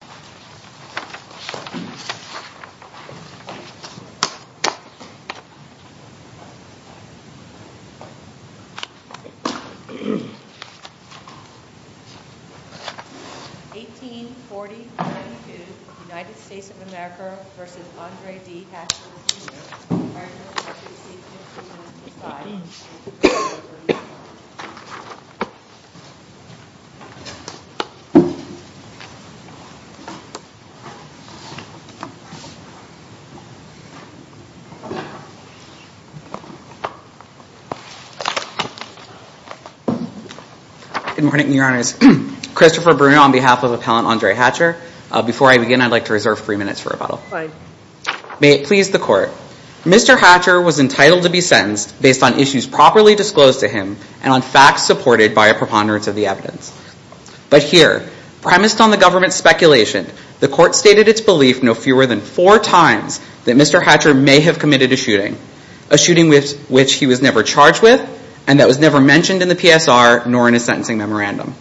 1840-22 United States of America v. Andre D. Hatcher Jr. Good morning, Your Honors. Christopher Bruno on behalf of Appellant Andre Hatcher. Before I begin, I'd like to reserve three minutes for rebuttal. May it please the Court. Mr. Hatcher was entitled to be sentenced based on issues properly disclosed to him and on facts supported by a preponderance of the evidence. But here, premised on the government's speculation, the Court stated its belief no fewer than four times that Mr. Hatcher may have committed a shooting, a shooting which he was never charged with and that was never mentioned in the PSR nor in a sentencing memorandum.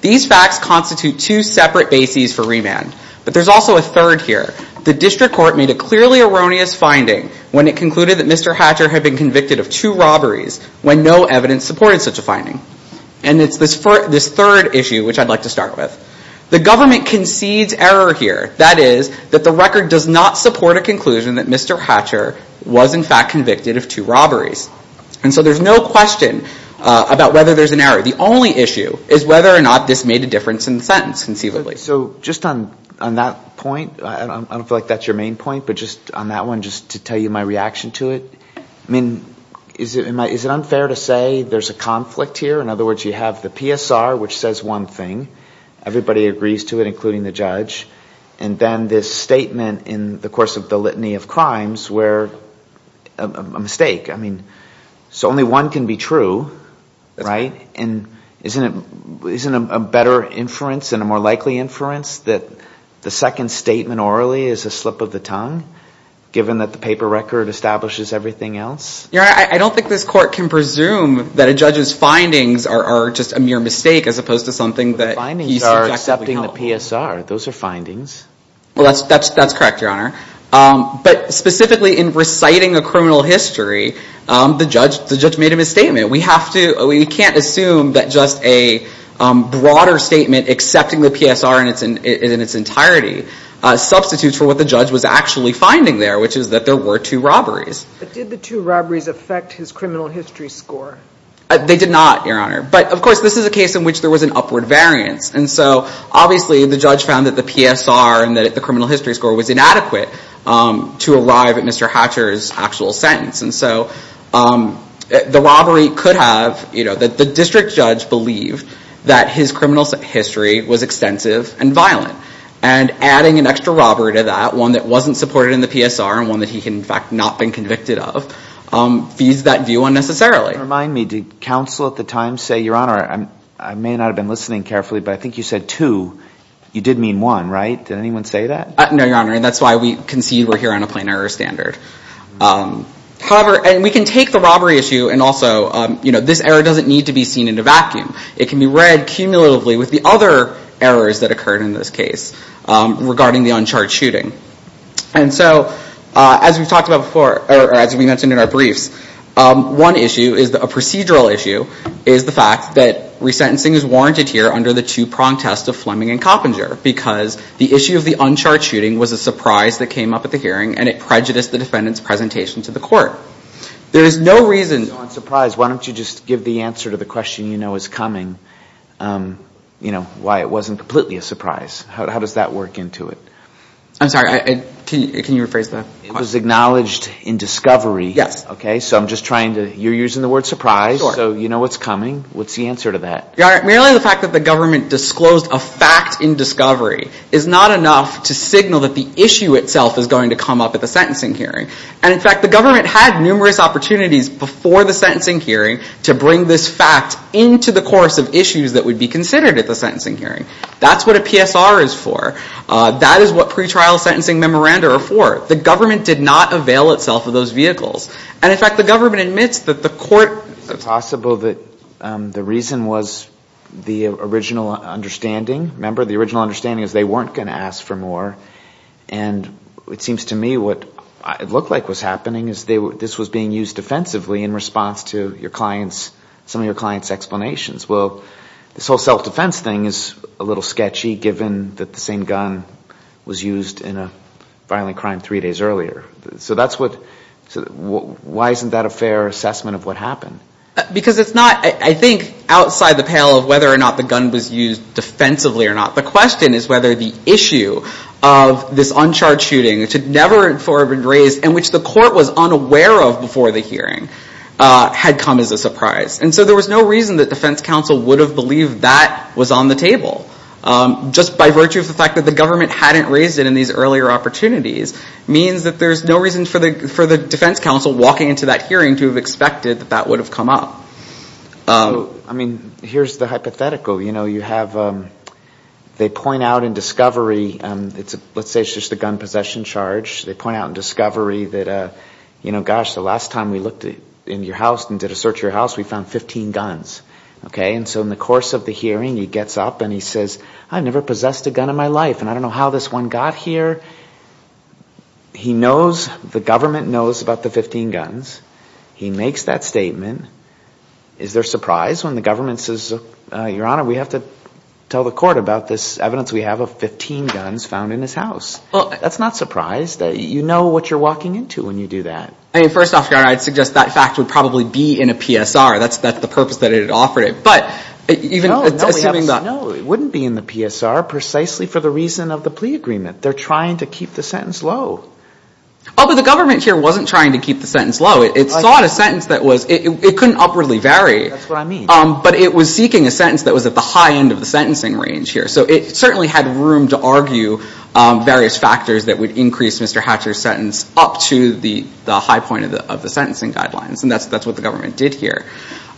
These facts constitute two separate bases for remand. But there's also a third here. The District Court made a clearly erroneous finding when it concluded that Mr. Hatcher had been convicted of two robberies when no evidence supported such a finding. And it's this third issue which I'd like to start with. The government concedes error here, that is, that the record does not support a conclusion that Mr. Hatcher was in fact convicted of two robberies. And so there's no question about whether there's an error. The only issue is whether or not this made a difference in Just on that point, I don't feel like that's your main point, but just on that one, just to tell you my reaction to it. I mean, is it unfair to say there's a conflict here? In other words, you have the PSR which says one thing, everybody agrees to it, including the judge, and then this statement in the course of the litany of crimes where a mistake. I mean, so only one can be true, right? And isn't it a better inference and a more likely inference that the second statement orally is a slip of the tongue, given that the paper record establishes everything else? Your Honor, I don't think this court can presume that a judge's findings are just a mere mistake as opposed to something that he's subjected to help. The findings are accepting the PSR. Those are findings. Well, that's correct, Your Honor. But specifically in reciting a criminal history, the judge made a misstatement. We have to, we can't assume that just a broader statement accepting the PSR in its entirety substitutes for what the judge was actually finding there, which is that there were two robberies. But did the two robberies affect his criminal history score? They did not, Your Honor. But of course, this is a case in which there was an upward variance. And so obviously, the judge found that the PSR and that the criminal history score was inadequate to arrive at Mr. Hatcher's actual sentence. And so the robbery could have, you his criminal history was extensive and violent. And adding an extra robbery to that, one that wasn't supported in the PSR and one that he had, in fact, not been convicted of, feeds that view unnecessarily. Remind me, did counsel at the time say, Your Honor, I may not have been listening carefully, but I think you said two. You did mean one, right? Did anyone say that? No, Your Honor. And that's why we concede we're here on a plain error standard. However, we can take the robbery issue and also this error doesn't need to be seen in a vacuum. It can be read cumulatively with the other errors that occurred in this case regarding the uncharged shooting. And so, as we've talked about before, or as we mentioned in our briefs, one issue, a procedural issue, is the fact that resentencing is warranted here under the two-pronged test of Fleming and Coppinger because the issue of the uncharged shooting was a surprise that came up at the sentencing hearing. There is no reason... On surprise, why don't you just give the answer to the question you know is coming, you know, why it wasn't completely a surprise. How does that work into it? I'm sorry, can you rephrase the question? It was acknowledged in discovery. Yes. Okay, so I'm just trying to, you're using the word surprise, so you know what's coming. What's the answer to that? Your Honor, merely the fact that the government disclosed a fact in discovery is not enough to signal that the issue itself is going to come up at the sentencing hearing. And in fact, the government had numerous opportunities before the sentencing hearing to bring this fact into the course of issues that would be considered at the sentencing hearing. That's what a PSR is for. That is what pretrial sentencing memoranda are for. The government did not avail itself of those vehicles. And in fact, the government admits that the court... Is it possible that the reason was the original understanding? Remember, the original understanding is they weren't going to ask for more. And it seems to me what it looked like was happening is this was being used defensively in response to some of your client's explanations. Well, this whole self-defense thing is a little sketchy given that the same gun was used in a violent crime three days earlier. So why isn't that a fair assessment of what happened? Because it's not, I think, outside the pale of whether or not the gun was used defensively or not. The question is whether the issue of this uncharged shooting, which had never been heard of before the hearing, had come as a surprise. And so there was no reason that defense counsel would have believed that was on the table. Just by virtue of the fact that the government hadn't raised it in these earlier opportunities means that there's no reason for the defense counsel walking into that hearing to have expected that that would have come up. So, I mean, here's the hypothetical. They point out in discovery, let's say it's just a gun possession charge. They point out in discovery that, you know, gosh, the last time we looked in your house and did a search of your house, we found 15 guns. Okay? And so in the course of the hearing, he gets up and he says, I've never possessed a gun in my life and I don't know how this one got here. He knows, the government knows about the 15 guns. He makes that statement. Is there surprise when the government says, Your Honor, we have to tell the court about this evidence we have of 15 guns found in his house? That's not surprise. You know what you're walking into when you do that. I mean, first off, Your Honor, I'd suggest that fact would probably be in a PSR. That's the purpose that it had offered it. But even assuming that... No, it wouldn't be in the PSR precisely for the reason of the plea agreement. They're trying to keep the sentence low. Oh, but the government here wasn't trying to keep the sentence low. It sought a sentence that was, it couldn't upwardly vary. That's what I mean. But it was seeking a sentence that was at the high end of the sentencing range here. So it certainly had room to argue various factors that would increase Mr. Hatcher's sentence up to the high point of the sentencing guidelines. And that's what the government did here.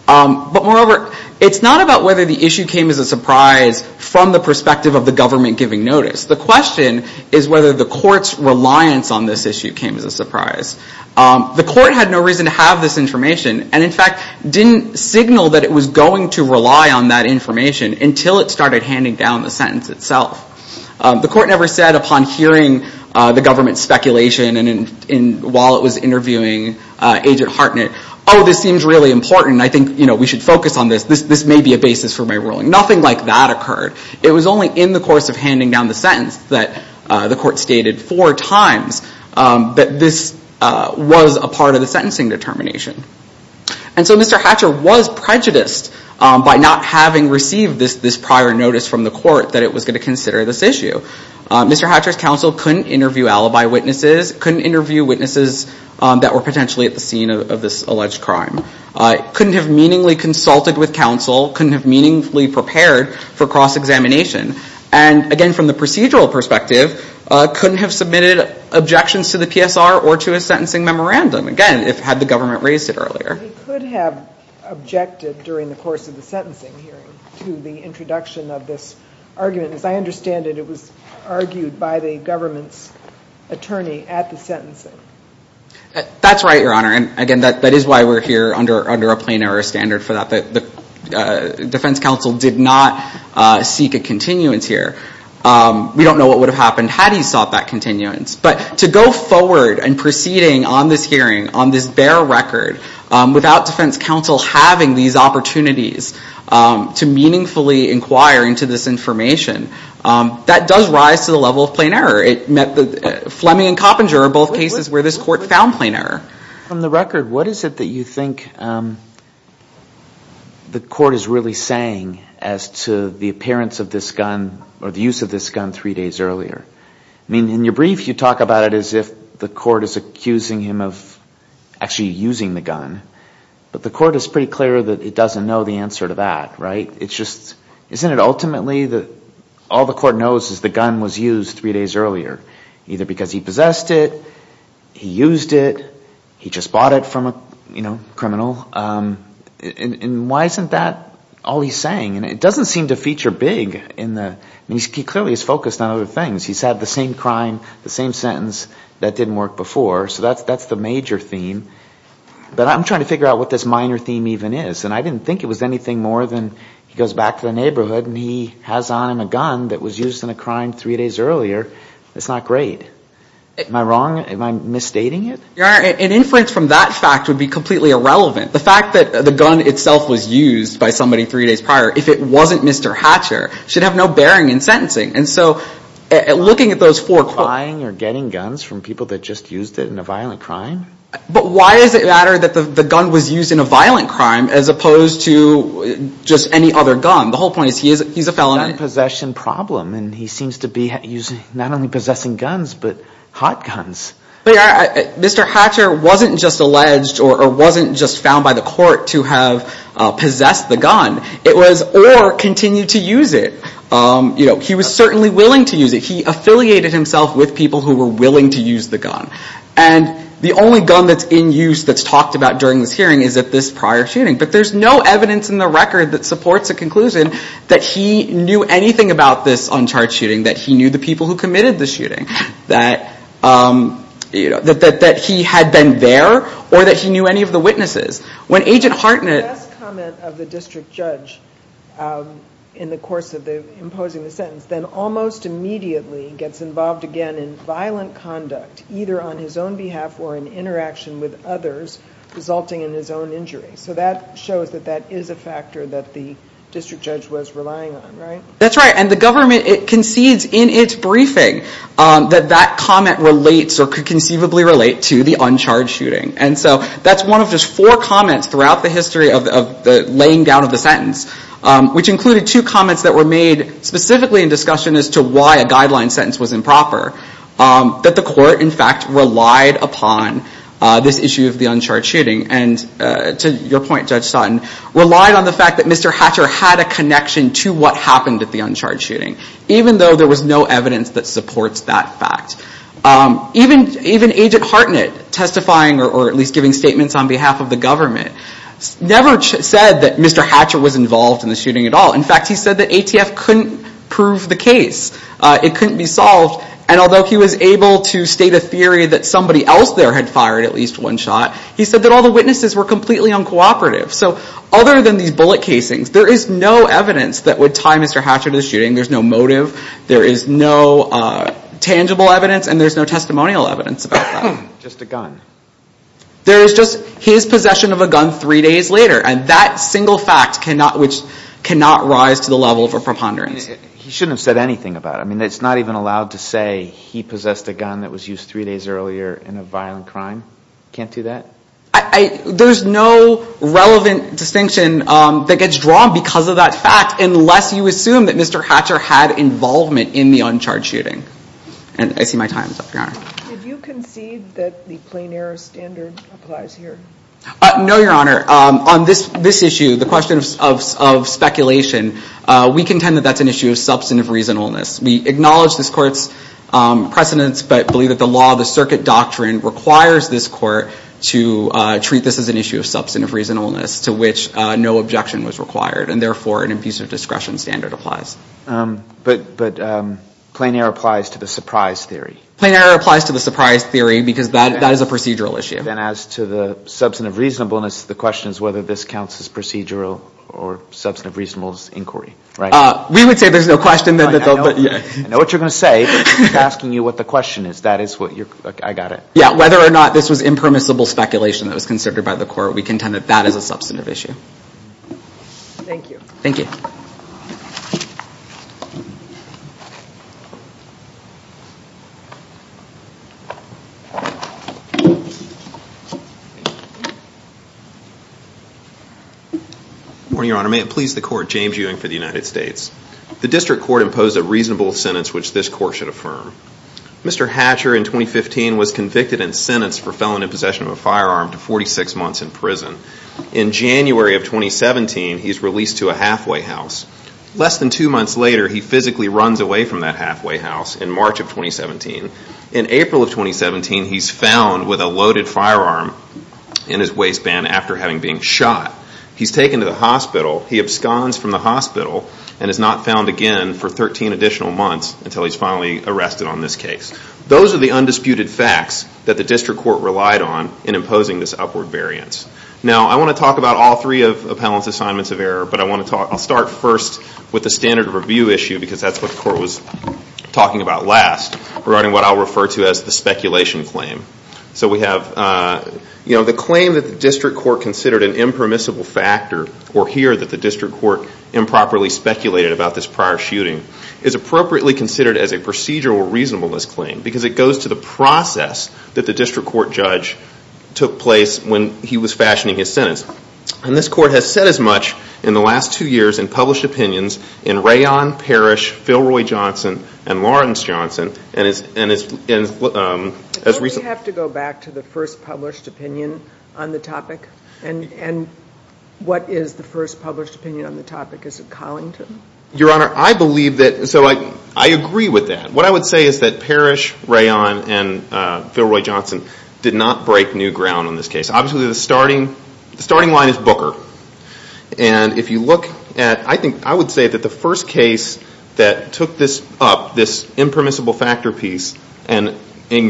But moreover, it's not about whether the issue came as a surprise from the perspective of the government giving notice. The question is whether the court's reliance on this issue came as a surprise. The court had no reason to have this information and, in fact, didn't signal that it was going to rely on that information until it started handing down the sentence itself. The court never said upon hearing the government's speculation and while it was interviewing Agent Hartnett, oh, this seems really important. I think we should focus on this. This may be a basis for my ruling. Nothing like that occurred. It was only in the course of handing down the sentence that the court stated four times that this was a part of the sentencing determination. And so Mr. Hatcher was prejudiced by not having received this prior notice from the court that it was going to consider this issue. Mr. Hatcher's counsel couldn't interview alibi witnesses, couldn't interview witnesses that were potentially at the scene of this alleged crime, couldn't have meaningfully consulted with counsel, couldn't have meaningfully prepared for cross-examination, and, again, from the procedural perspective, couldn't have submitted objections to the PSR or to why the government raised it earlier. He could have objected during the course of the sentencing hearing to the introduction of this argument. As I understand it, it was argued by the government's attorney at the sentencing. That's right, Your Honor. And, again, that is why we're here under a plain error standard for that. The defense counsel did not seek a continuance here. We don't know what would have happened had he sought that continuance. But to go forward and proceeding on this hearing, on this bare record, without defense counsel having these opportunities to meaningfully inquire into this information, that does rise to the level of plain error. Fleming and Coppinger are both cases where this court found plain error. From the record, what is it that you think the court is really saying as to the appearance of this gun or the use of this gun three days earlier? I mean, in your brief, you talk about it as if the court is accusing him of actually using the gun. But the court is pretty clear that it doesn't know the answer to that, right? Isn't it ultimately that all the court knows is the gun was used three days earlier, either because he possessed it, he used it, he just bought it from a criminal? And why isn't that all he's saying? And it doesn't seem to feature big in the, I mean, he clearly is focused on other things. He's had the same crime, the same sentence that didn't work before. So that's the major theme. But I'm trying to figure out what this minor theme even is. And I didn't think it was anything more than he goes back to the neighborhood and he has on him a gun that was used in a crime three days earlier. It's not great. Am I wrong? Am I misstating it? Your Honor, an inference from that fact would be completely irrelevant. The fact that the gun itself was used by somebody three days prior, if it wasn't Mr. Hatcher, should have no bearing in sentencing. And so looking at those four courts Acquiring or getting guns from people that just used it in a violent crime? But why does it matter that the gun was used in a violent crime as opposed to just any other gun? The whole point is he's a felon. It's a gun possession problem. And he seems to be not only possessing guns, but hot guns. Mr. Hatcher wasn't just alleged or wasn't just found by the court to have possessed the gun. It was or continued to use it. He was certainly willing to use it. He affiliated himself with people who were willing to use the gun. And the only gun that's in use that's talked about during this hearing is at this prior shooting. But there's no evidence in the record that supports a conclusion that he knew anything about this uncharged shooting, that he knew the that he had been there or that he knew any of the witnesses. When Agent Hartnett The last comment of the district judge in the course of imposing the sentence then almost immediately gets involved again in violent conduct, either on his own behalf or in interaction with others, resulting in his own injury. So that shows that that is a factor that the district judge was relying on, right? That's right. And the government concedes in its briefing that that comment relates or could conceivably relate to the uncharged shooting. And so that's one of just four comments throughout the history of the laying down of the sentence, which included two comments that were made specifically in discussion as to why a guideline sentence was improper. That the court, in fact, relied upon this issue of the uncharged shooting. And to your point, Judge Sutton, relied on the fact that Mr. Hatcher had a connection to what happened at the uncharged shooting, even though there was no evidence that supports that fact. Even Agent Hartnett testifying or at least giving statements on behalf of the government never said that Mr. Hatcher was involved in the shooting at all. In fact, he said that ATF couldn't prove the case. It couldn't be solved. And although he was able to state a theory that somebody else there had fired at least one shot, he said that all the witnesses were completely uncooperative. So other than these bullet casings, there is no evidence that would tie Mr. Hatcher to the shooting. There's no motive. There is no tangible evidence. And there's no testimonial evidence about that. Just a gun. There is just his possession of a gun three days later. And that single fact cannot, which cannot rise to the level of a preponderance. He shouldn't have said anything about it. I mean, it's not even allowed to say he possessed a gun that was used three days earlier in a violent crime. Can't do that? There's no relevant distinction that gets drawn because of that fact, unless you assume that Mr. Hatcher had involvement in the uncharged shooting. And I see my time is up, Your Honor. Did you concede that the plein air standard applies here? No, Your Honor. On this issue, the question of speculation, we contend that that's an issue of substantive reasonableness. We acknowledge this court's precedence, but believe that the law, the circuit doctrine, requires this court to treat this as an issue of substantive reasonableness, to which no objection was required. And therefore, an abusive discretion standard applies. But plein air applies to the surprise theory. Plein air applies to the surprise theory because that is a procedural issue. Then as to the substantive reasonableness, the question is whether this counts as procedural or substantive reasonableness inquiry, right? We would say there's no question. I know what you're going to say, but I'm asking you what the question is. That is what you're – I got it. Yeah, whether or not this was impermissible speculation that was considered by the court, we contend that that is a substantive issue. Thank you. Thank you. Good morning, Your Honor. May it please the court, James Ewing for the United States. The district court imposed a reasonable sentence which this court should affirm. Mr. Hatcher, in 2015, was convicted and sentenced for felon in possession of a firearm to 46 in a halfway house. Less than two months later, he physically runs away from that halfway house in March of 2017. In April of 2017, he's found with a loaded firearm in his waistband after having been shot. He's taken to the hospital. He absconds from the hospital and is not found again for 13 additional months until he's finally arrested on this case. Those are the undisputed facts that the district court relied on in imposing this upward variance. Now, I want to talk about all three of Appellant's assignments of error, but I want to talk – I'll start first with the standard review issue because that's what the court was talking about last, regarding what I'll refer to as the speculation claim. So we have, you know, the claim that the district court considered an impermissible factor or here that the district court improperly speculated about this prior shooting is appropriately considered as a procedural reasonableness claim because it goes to the process that the district court judge took place when he was fashioning his sentence. And this court has said as much in the last two years in published opinions in Rayon, Parrish, Philroy Johnson, and Lawrence Johnson, and as recently – Don't we have to go back to the first published opinion on the topic? And what is the first published opinion on the topic? Is it Collington? Your Honor, I believe that – so I agree with that. What I would say is that Parrish, Rayon, and Philroy Johnson did not break new ground on this case. Obviously the starting line is Booker, and if you look at – I think I would say that the first case that took this up, this impermissible factor piece, and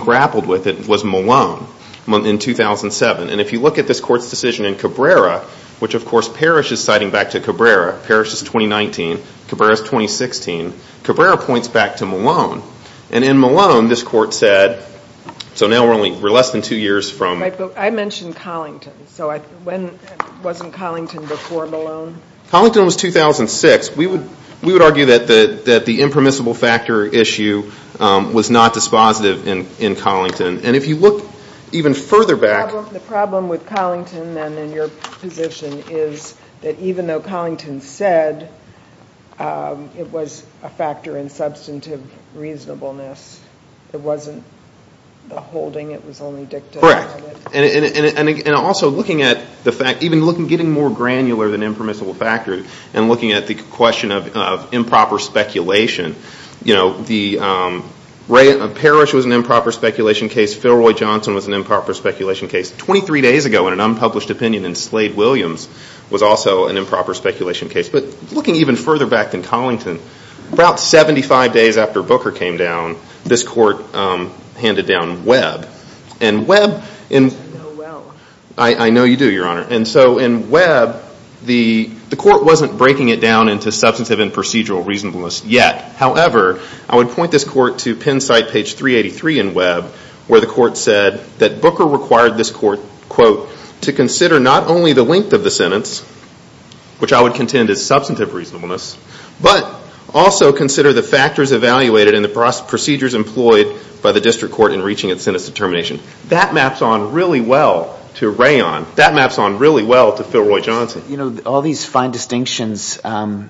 grappled with it was Malone in 2007. And if you look at this court's decision in Cabrera, which of course Parrish is citing back to Cabrera, Parrish is 2019, Cabrera is 2016, Cabrera points back to Malone. And in Malone, this court said – so now we're less than two years from – Right, but I mentioned Collington. So when – wasn't Collington before Malone? Collington was 2006. We would argue that the impermissible factor issue was not dispositive in Collington. And if you look even further back – The problem with Collington then in your position is that even though Collington said it was a factor in substantive reasonableness, it wasn't the holding. It was only dictated. Correct. And also looking at the fact – even getting more granular than impermissible factor and looking at the question of improper speculation, you know, Parrish was an improper speculation case. Filroy Johnson was an improper speculation case. Twenty-three days ago in an unpublished opinion in Slade-Williams was also an improper speculation case. But looking even further back than Collington, about 75 days after Booker came down, this court handed down Webb. And Webb – I know Webb. I know you do, Your Honor. And so in Webb, the court wasn't breaking it down into substantive and procedural reasonableness yet. However, I would point this court to Penn site page 383 in Webb where the court said that Booker required this court, quote, to consider not only the length of the sentence, which I would contend is substantive reasonableness, but also consider the factors evaluated and the procedures employed by the district court in reaching its sentence determination. That maps on really well to Rayon. That maps on really well to Filroy Johnson. But, you know, all these fine distinctions, do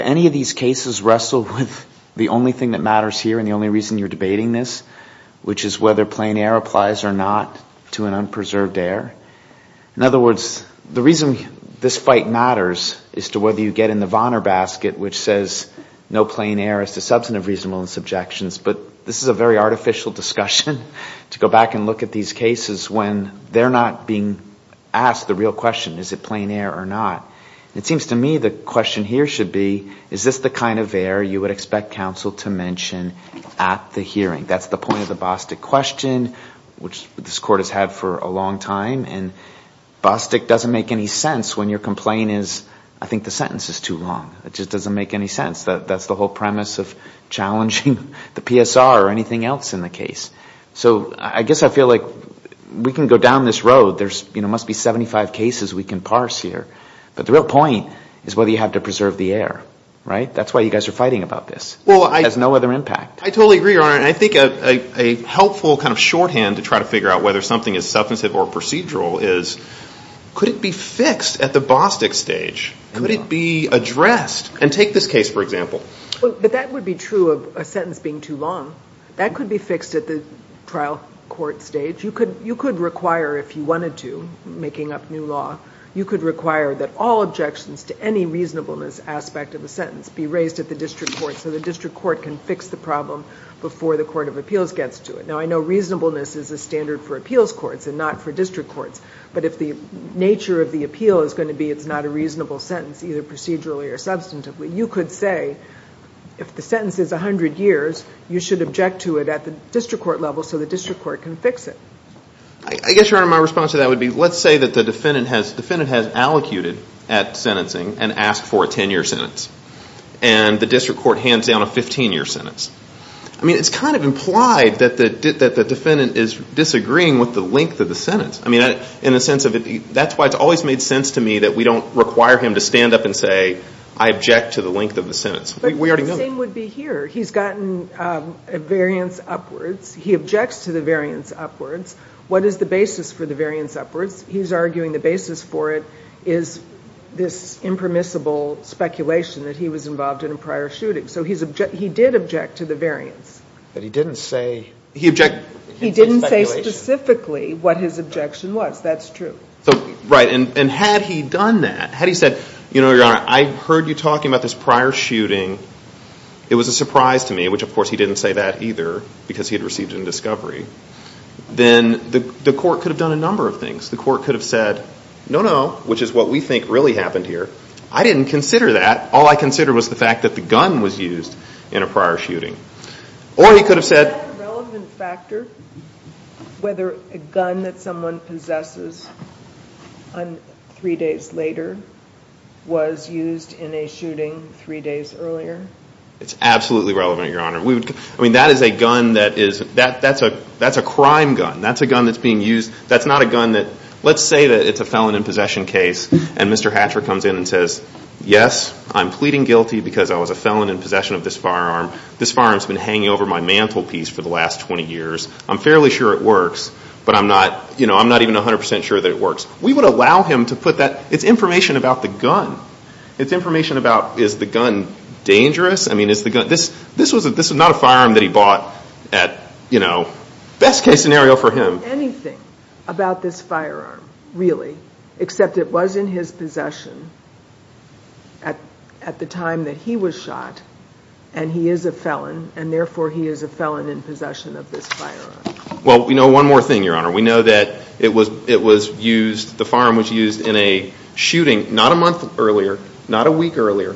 any of these cases wrestle with the only thing that matters here and the only reason you're debating this, which is whether plain air applies or not to an unpreserved air? In other words, the reason this fight matters is to whether you get in the Vonner basket, which says no plain air is to substantive reasonableness objections. But this is a very artificial discussion to go back and look at these cases when they're not being asked the real question, is it plain air or not? It seems to me the question here should be, is this the kind of air you would expect counsel to mention at the hearing? That's the point of the Bostic question, which this court has had for a long time. And Bostic doesn't make any sense when your complaint is, I think the sentence is too long. It just doesn't make any sense. That's the whole premise of challenging the PSR or anything else in the case. So I guess I feel like we can go down this road. There must be 75 cases we can parse here. But the real point is whether you have to preserve the air, right? That's why you guys are fighting about this. It has no other impact. I totally agree, Your Honor. And I think a helpful kind of shorthand to try to figure out whether something is substantive or procedural is, could it be fixed at the Bostic stage? Could it be addressed? And take this case, for example. But that would be true of a sentence being too long. That could be fixed at the trial court stage. You could require, if you wanted to, making up new law, you could require that all objections to any reasonableness aspect of the sentence be raised at the district court so the district court can fix the problem before the court of appeals gets to it. Now, I know reasonableness is a standard for appeals courts and not for district courts. But if the nature of the appeal is going to be it's not a reasonable sentence, either procedurally or substantively, you could say if the sentence is 100 years, you should object to it at the district court level so the district court can fix it. I guess, Your Honor, my response to that would be, let's say that the defendant has allocated at sentencing and asked for a 10-year sentence. And the district court hands down a 15-year sentence. I mean, it's kind of implied that the defendant is disagreeing with the length of the sentence. I mean, in the sense of that's why it's always made sense to me that we don't require him to stand up and say, I object to the length of the sentence. We already know that. But the same would be here. He's gotten a variance upwards. He objects to the variance upwards. What is the basis for the variance upwards? He's arguing the basis for it is this impermissible speculation that he was involved in a prior shooting. So he did object to the variance. But he didn't say... He objected... He didn't say specifically what his objection was. That's true. Right. And had he done that, had he said, you know, Your Honor, I heard you talking about this prior shooting. It was a surprise to me, which, of course, he didn't say that either because he had received it in discovery. Then the court could have done a number of things. The court could have said, no, no, which is what we think really happened here. I didn't consider that. All I considered was the fact that the gun was used in a prior shooting. Or he could have said... Is that a relevant factor, whether a gun that someone possesses three days later was used in a shooting three days earlier? It's absolutely relevant, Your Honor. I mean, that is a gun that is... That's a crime gun. That's a gun that's being used. That's not a gun that... And Mr. Hatcher comes in and says, yes, I'm pleading guilty because I was a felon in possession of this firearm. This firearm's been hanging over my mantelpiece for the last 20 years. I'm fairly sure it works, but I'm not, you know, I'm not even 100 percent sure that it works. We would allow him to put that... It's information about the gun. It's information about, is the gun dangerous? I mean, is the gun... This was not a firearm that he bought at, you know, best case scenario for him. We don't know anything about this firearm, really, except it was in his possession at the time that he was shot, and he is a felon, and therefore he is a felon in possession of this firearm. Well, we know one more thing, Your Honor. We know that it was used, the firearm was used in a shooting not a month earlier, not a week earlier,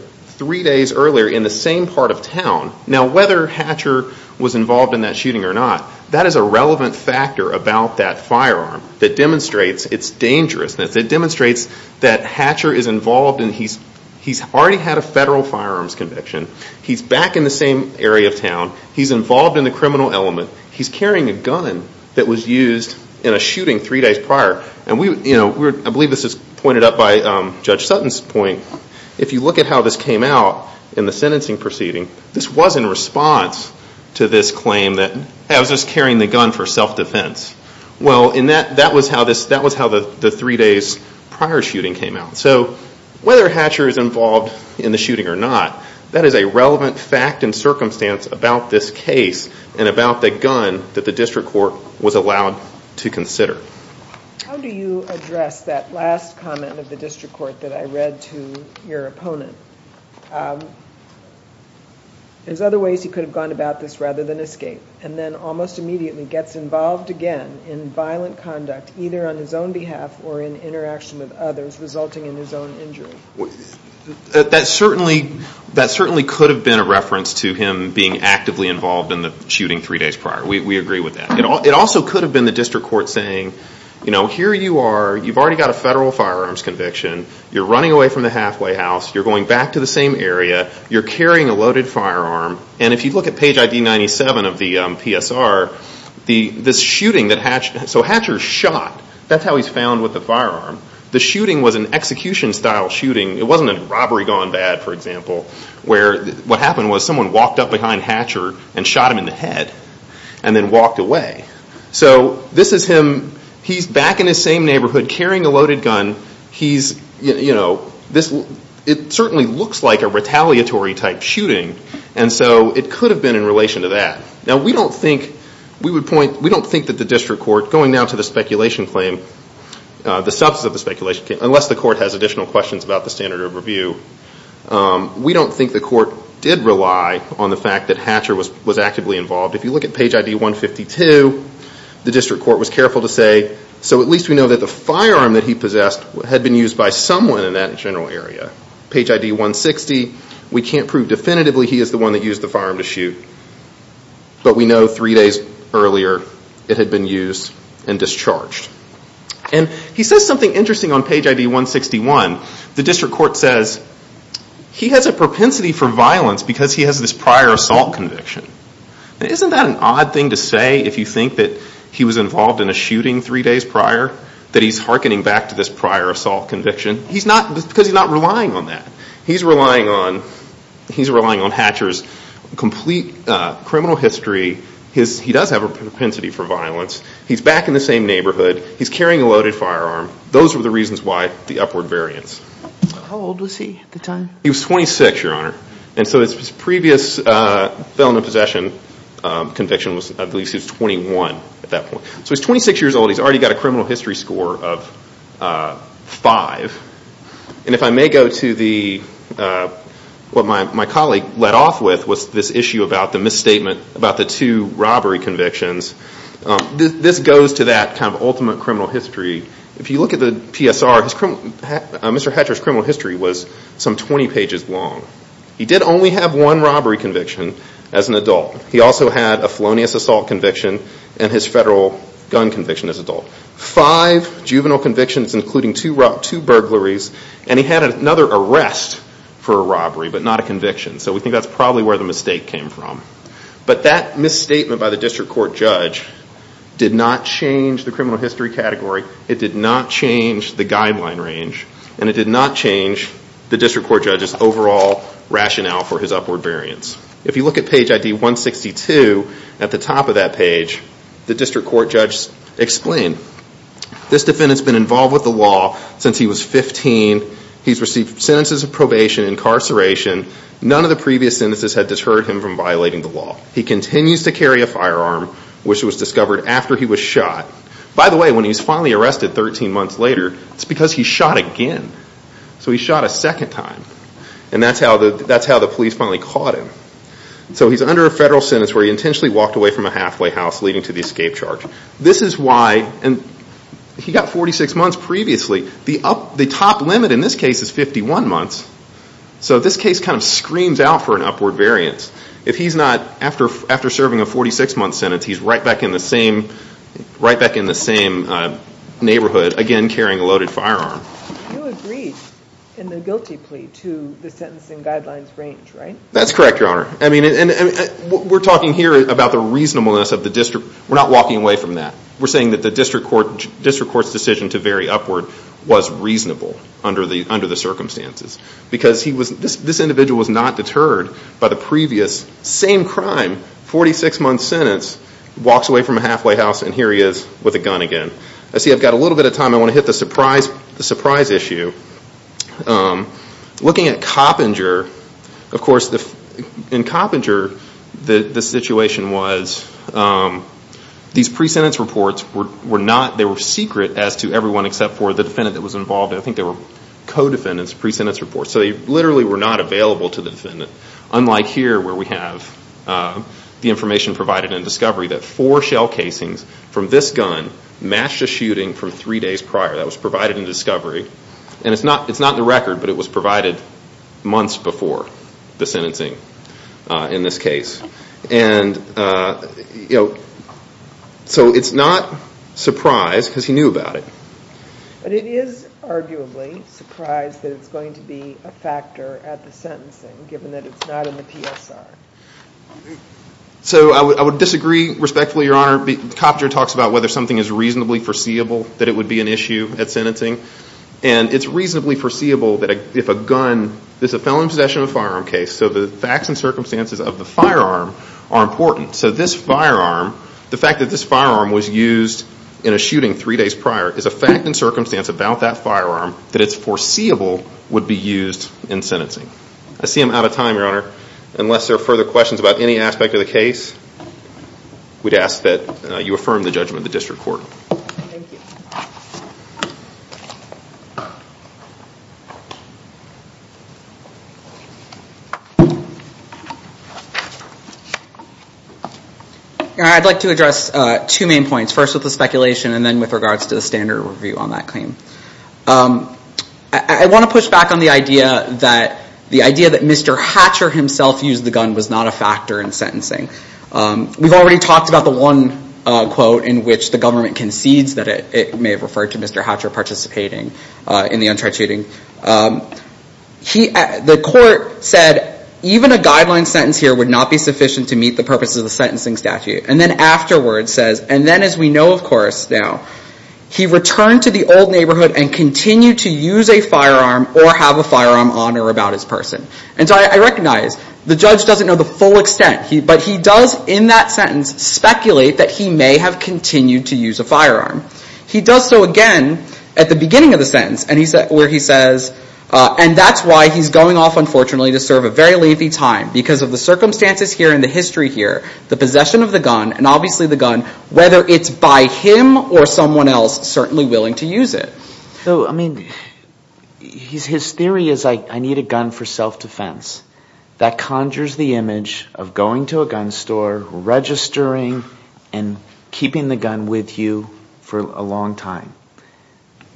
Now, whether Hatcher was involved in that shooting or not, that is a relevant factor about that firearm that demonstrates its dangerousness. It demonstrates that Hatcher is involved in... He's already had a federal firearms conviction. He's back in the same area of town. He's involved in the criminal element. He's carrying a gun that was used in a shooting three days prior, and we, you know, I believe this is pointed out by Judge Sutton's point. If you look at how this came out in the sentencing proceeding, this was in response to this claim that I was just carrying the gun for self-defense. Well, that was how the three days prior shooting came out. So whether Hatcher is involved in the shooting or not, that is a relevant fact and circumstance about this case and about the gun that the district court was allowed to consider. How do you address that last comment of the district court that I read to your opponent? There's other ways he could have gone about this rather than escape, and then almost immediately gets involved again in violent conduct, either on his own behalf or in interaction with others, resulting in his own injury. That certainly could have been a reference to him being actively involved in the shooting three days prior. We agree with that. It also could have been the district court saying, you know, here you are, you've already got a federal firearms conviction, you're running away from the halfway house, you're going back to the same area, you're carrying a loaded firearm, and if you look at page ID 97 of the PSR, this shooting that Hatcher, so Hatcher shot, that's how he's found with the firearm. The shooting was an execution-style shooting. It wasn't a robbery gone bad, for example, where what happened was someone walked up behind Hatcher and shot him in the head and then walked away. So this is him, he's back in his same neighborhood carrying a loaded gun, he's, you know, this, it certainly looks like a retaliatory-type shooting, and so it could have been in relation to that. Now we don't think, we would point, we don't think that the district court, going now to the speculation claim, the substance of the speculation claim, unless the court has additional questions about the standard of review, we don't think the court did rely on the fact that Hatcher was actively involved. If you look at page ID 152, the district court was careful to say, so at least we know that the firearm that he possessed had been used by someone in that general area. Page ID 160, we can't prove definitively he is the one that used the firearm to shoot, but we know three days earlier it had been used and discharged. And he says something interesting on page ID 161. The district court says he has a propensity for violence because he has this prior assault conviction. Isn't that an odd thing to say if you think that he was involved in a shooting three days prior, that he's hearkening back to this prior assault conviction? He's not, because he's not relying on that. He's relying on Hatcher's complete criminal history. He does have a propensity for violence. He's back in the same neighborhood. He's carrying a loaded firearm. Those were the reasons why the upward variance. How old was he at the time? He was 26, Your Honor. And so his previous felon in possession conviction, I believe he was 21 at that point. So he's 26 years old. He's already got a criminal history score of 5. And if I may go to what my colleague led off with, was this issue about the misstatement about the two robbery convictions. This goes to that kind of ultimate criminal history. If you look at the PSR, Mr. Hatcher's criminal history was some 20 pages long. He did only have one robbery conviction as an adult. He also had a felonious assault conviction and his federal gun conviction as an adult. Five juvenile convictions, including two burglaries. And he had another arrest for a robbery, but not a conviction. So we think that's probably where the mistake came from. But that misstatement by the district court judge did not change the criminal history category. It did not change the guideline range. And it did not change the district court judge's overall rationale for his upward variance. If you look at page ID 162, at the top of that page, the district court judge explained, this defendant's been involved with the law since he was 15. He's received sentences of probation, incarceration. None of the previous sentences had deterred him from violating the law. He continues to carry a firearm, which was discovered after he was shot. By the way, when he was finally arrested 13 months later, it's because he shot again. So he shot a second time. And that's how the police finally caught him. So he's under a federal sentence where he intentionally walked away from a halfway house, leading to the escape charge. This is why, and he got 46 months previously. The top limit in this case is 51 months. So this case kind of screams out for an upward variance. If he's not, after serving a 46-month sentence, he's right back in the same neighborhood, again carrying a loaded firearm. You agreed in the guilty plea to the sentencing guidelines range, right? That's correct, Your Honor. I mean, we're talking here about the reasonableness of the district. We're not walking away from that. We're saying that the district court's decision to vary upward was reasonable under the circumstances because this individual was not deterred by the previous same crime, 46-month sentence, walks away from a halfway house, and here he is with a gun again. I see I've got a little bit of time. I want to hit the surprise issue. Looking at Coppinger, of course, in Coppinger the situation was these pre-sentence reports were not, they were secret as to everyone except for the defendant that was involved. I think they were co-defendants' pre-sentence reports. So they literally were not available to the defendant, unlike here where we have the information provided in discovery that four shell casings from this gun matched a shooting from three days prior that was provided in discovery. And it's not in the record, but it was provided months before the sentencing in this case. And, you know, so it's not a surprise because he knew about it. But it is arguably a surprise that it's going to be a factor at the sentencing, given that it's not in the PSR. So I would disagree respectfully, Your Honor. Coppinger talks about whether something is reasonably foreseeable, that it would be an issue at sentencing. And it's reasonably foreseeable that if a gun is a felony possession of a firearm case, so the facts and circumstances of the firearm are important. So this firearm, the fact that this firearm was used in a shooting three days prior is a fact and circumstance about that firearm that it's foreseeable would be used in sentencing. I see I'm out of time, Your Honor. Unless there are further questions about any aspect of the case, we'd ask that you affirm the judgment of the district court. Thank you. I'd like to address two main points. First with the speculation and then with regards to the standard review on that claim. I want to push back on the idea that the idea that Mr. Hatcher himself used the gun was not a factor in sentencing. We've already talked about the one quote in which the government concedes that it may have referred to Mr. Hatcher participating in the untried shooting. The court said even a guideline sentence here would not be sufficient to meet the purpose of the sentencing statute. And then afterwards says, and then as we know of course now, he returned to the old neighborhood and continued to use a firearm or have a firearm on or about his person. And so I recognize the judge doesn't know the full extent, but he does in that sentence speculate that he may have continued to use a firearm. He does so again at the beginning of the sentence where he says, and that's why he's going off unfortunately to serve a very lengthy time because of the circumstances here and the history here, the possession of the gun and obviously the gun, whether it's by him or someone else certainly willing to use it. So, I mean, his theory is I need a gun for self-defense. That conjures the image of going to a gun store, registering and keeping the gun with you for a long time.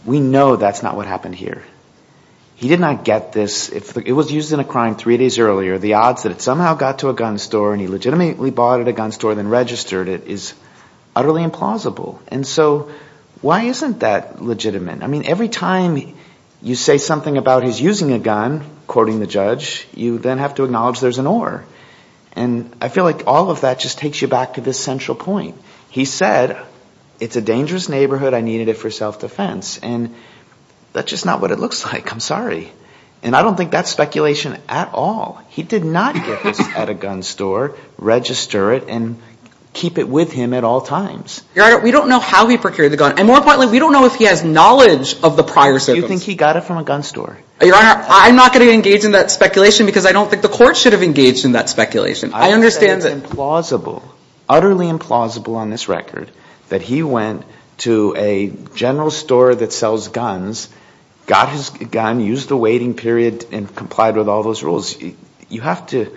We know that's not what happened here. He did not get this. It was used in a crime three days earlier. The odds that it somehow got to a gun store and he legitimately bought it at a gun store and registered it is utterly implausible. And so why isn't that legitimate? I mean, every time you say something about his using a gun, quoting the judge, you then have to acknowledge there's an or. And I feel like all of that just takes you back to this central point. He said it's a dangerous neighborhood. I needed it for self-defense. And that's just not what it looks like. I'm sorry. And I don't think that's speculation at all. He did not get this at a gun store, register it, and keep it with him at all times. Your Honor, we don't know how he procured the gun. And more importantly, we don't know if he has knowledge of the prior service. Do you think he got it from a gun store? Your Honor, I'm not going to engage in that speculation because I don't think the court should have engaged in that speculation. I understand that. It's implausible, utterly implausible on this record that he went to a general store that sells guns, got his gun, used the waiting period, and complied with all those rules. You have to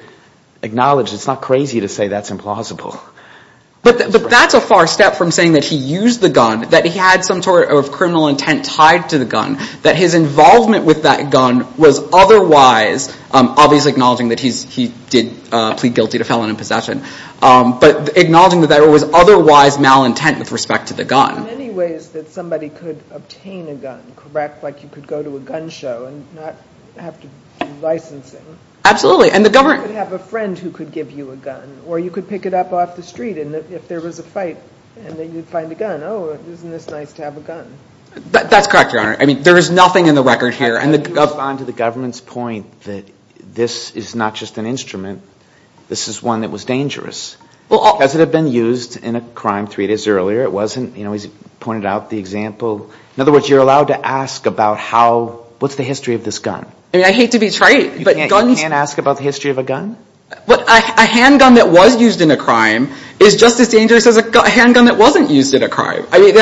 acknowledge it's not crazy to say that's implausible. But that's a far step from saying that he used the gun, that he had some sort of criminal intent tied to the gun, that his involvement with that gun was otherwise, obviously acknowledging that he did plead guilty to felon in possession, but acknowledging that there was otherwise malintent with respect to the gun. In many ways that somebody could obtain a gun, correct? Like you could go to a gun show and not have to do licensing. Absolutely. You could have a friend who could give you a gun, or you could pick it up off the street and if there was a fight, and then you'd find a gun. Oh, isn't this nice to have a gun? That's correct, Your Honor. I mean, there is nothing in the record here. And to respond to the government's point that this is not just an instrument, this is one that was dangerous. Does it have been used in a crime three days earlier? It wasn't? You know, he's pointed out the example. In other words, you're allowed to ask about how, what's the history of this gun? I mean, I hate to be trite, but guns. You can't ask about the history of a gun? A handgun that was used in a crime is just as dangerous as a handgun that wasn't used in a crime. I mean,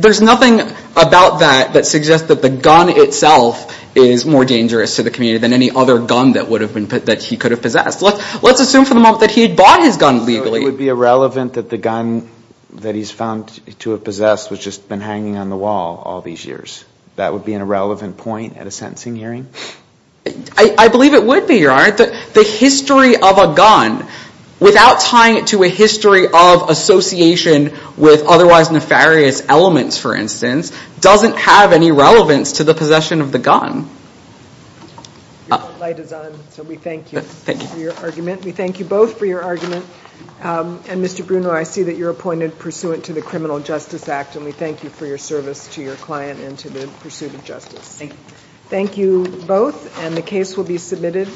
there's nothing about that that suggests that the gun itself is more dangerous to the community than any other gun that he could have possessed. Let's assume for the moment that he had bought his gun legally. It would be irrelevant that the gun that he's found to have possessed was just been hanging on the wall all these years. That would be an irrelevant point at a sentencing hearing? I believe it would be, Your Honor. The history of a gun, without tying it to a history of association with otherwise nefarious elements, for instance, doesn't have any relevance to the possession of the gun. Your light is on, so we thank you for your argument. Mr. Bruno, I see that you're appointed pursuant to the Criminal Justice Act, and we thank you for your service to your client and to the pursuit of justice. Thank you. Thank you both, and the case will be submitted.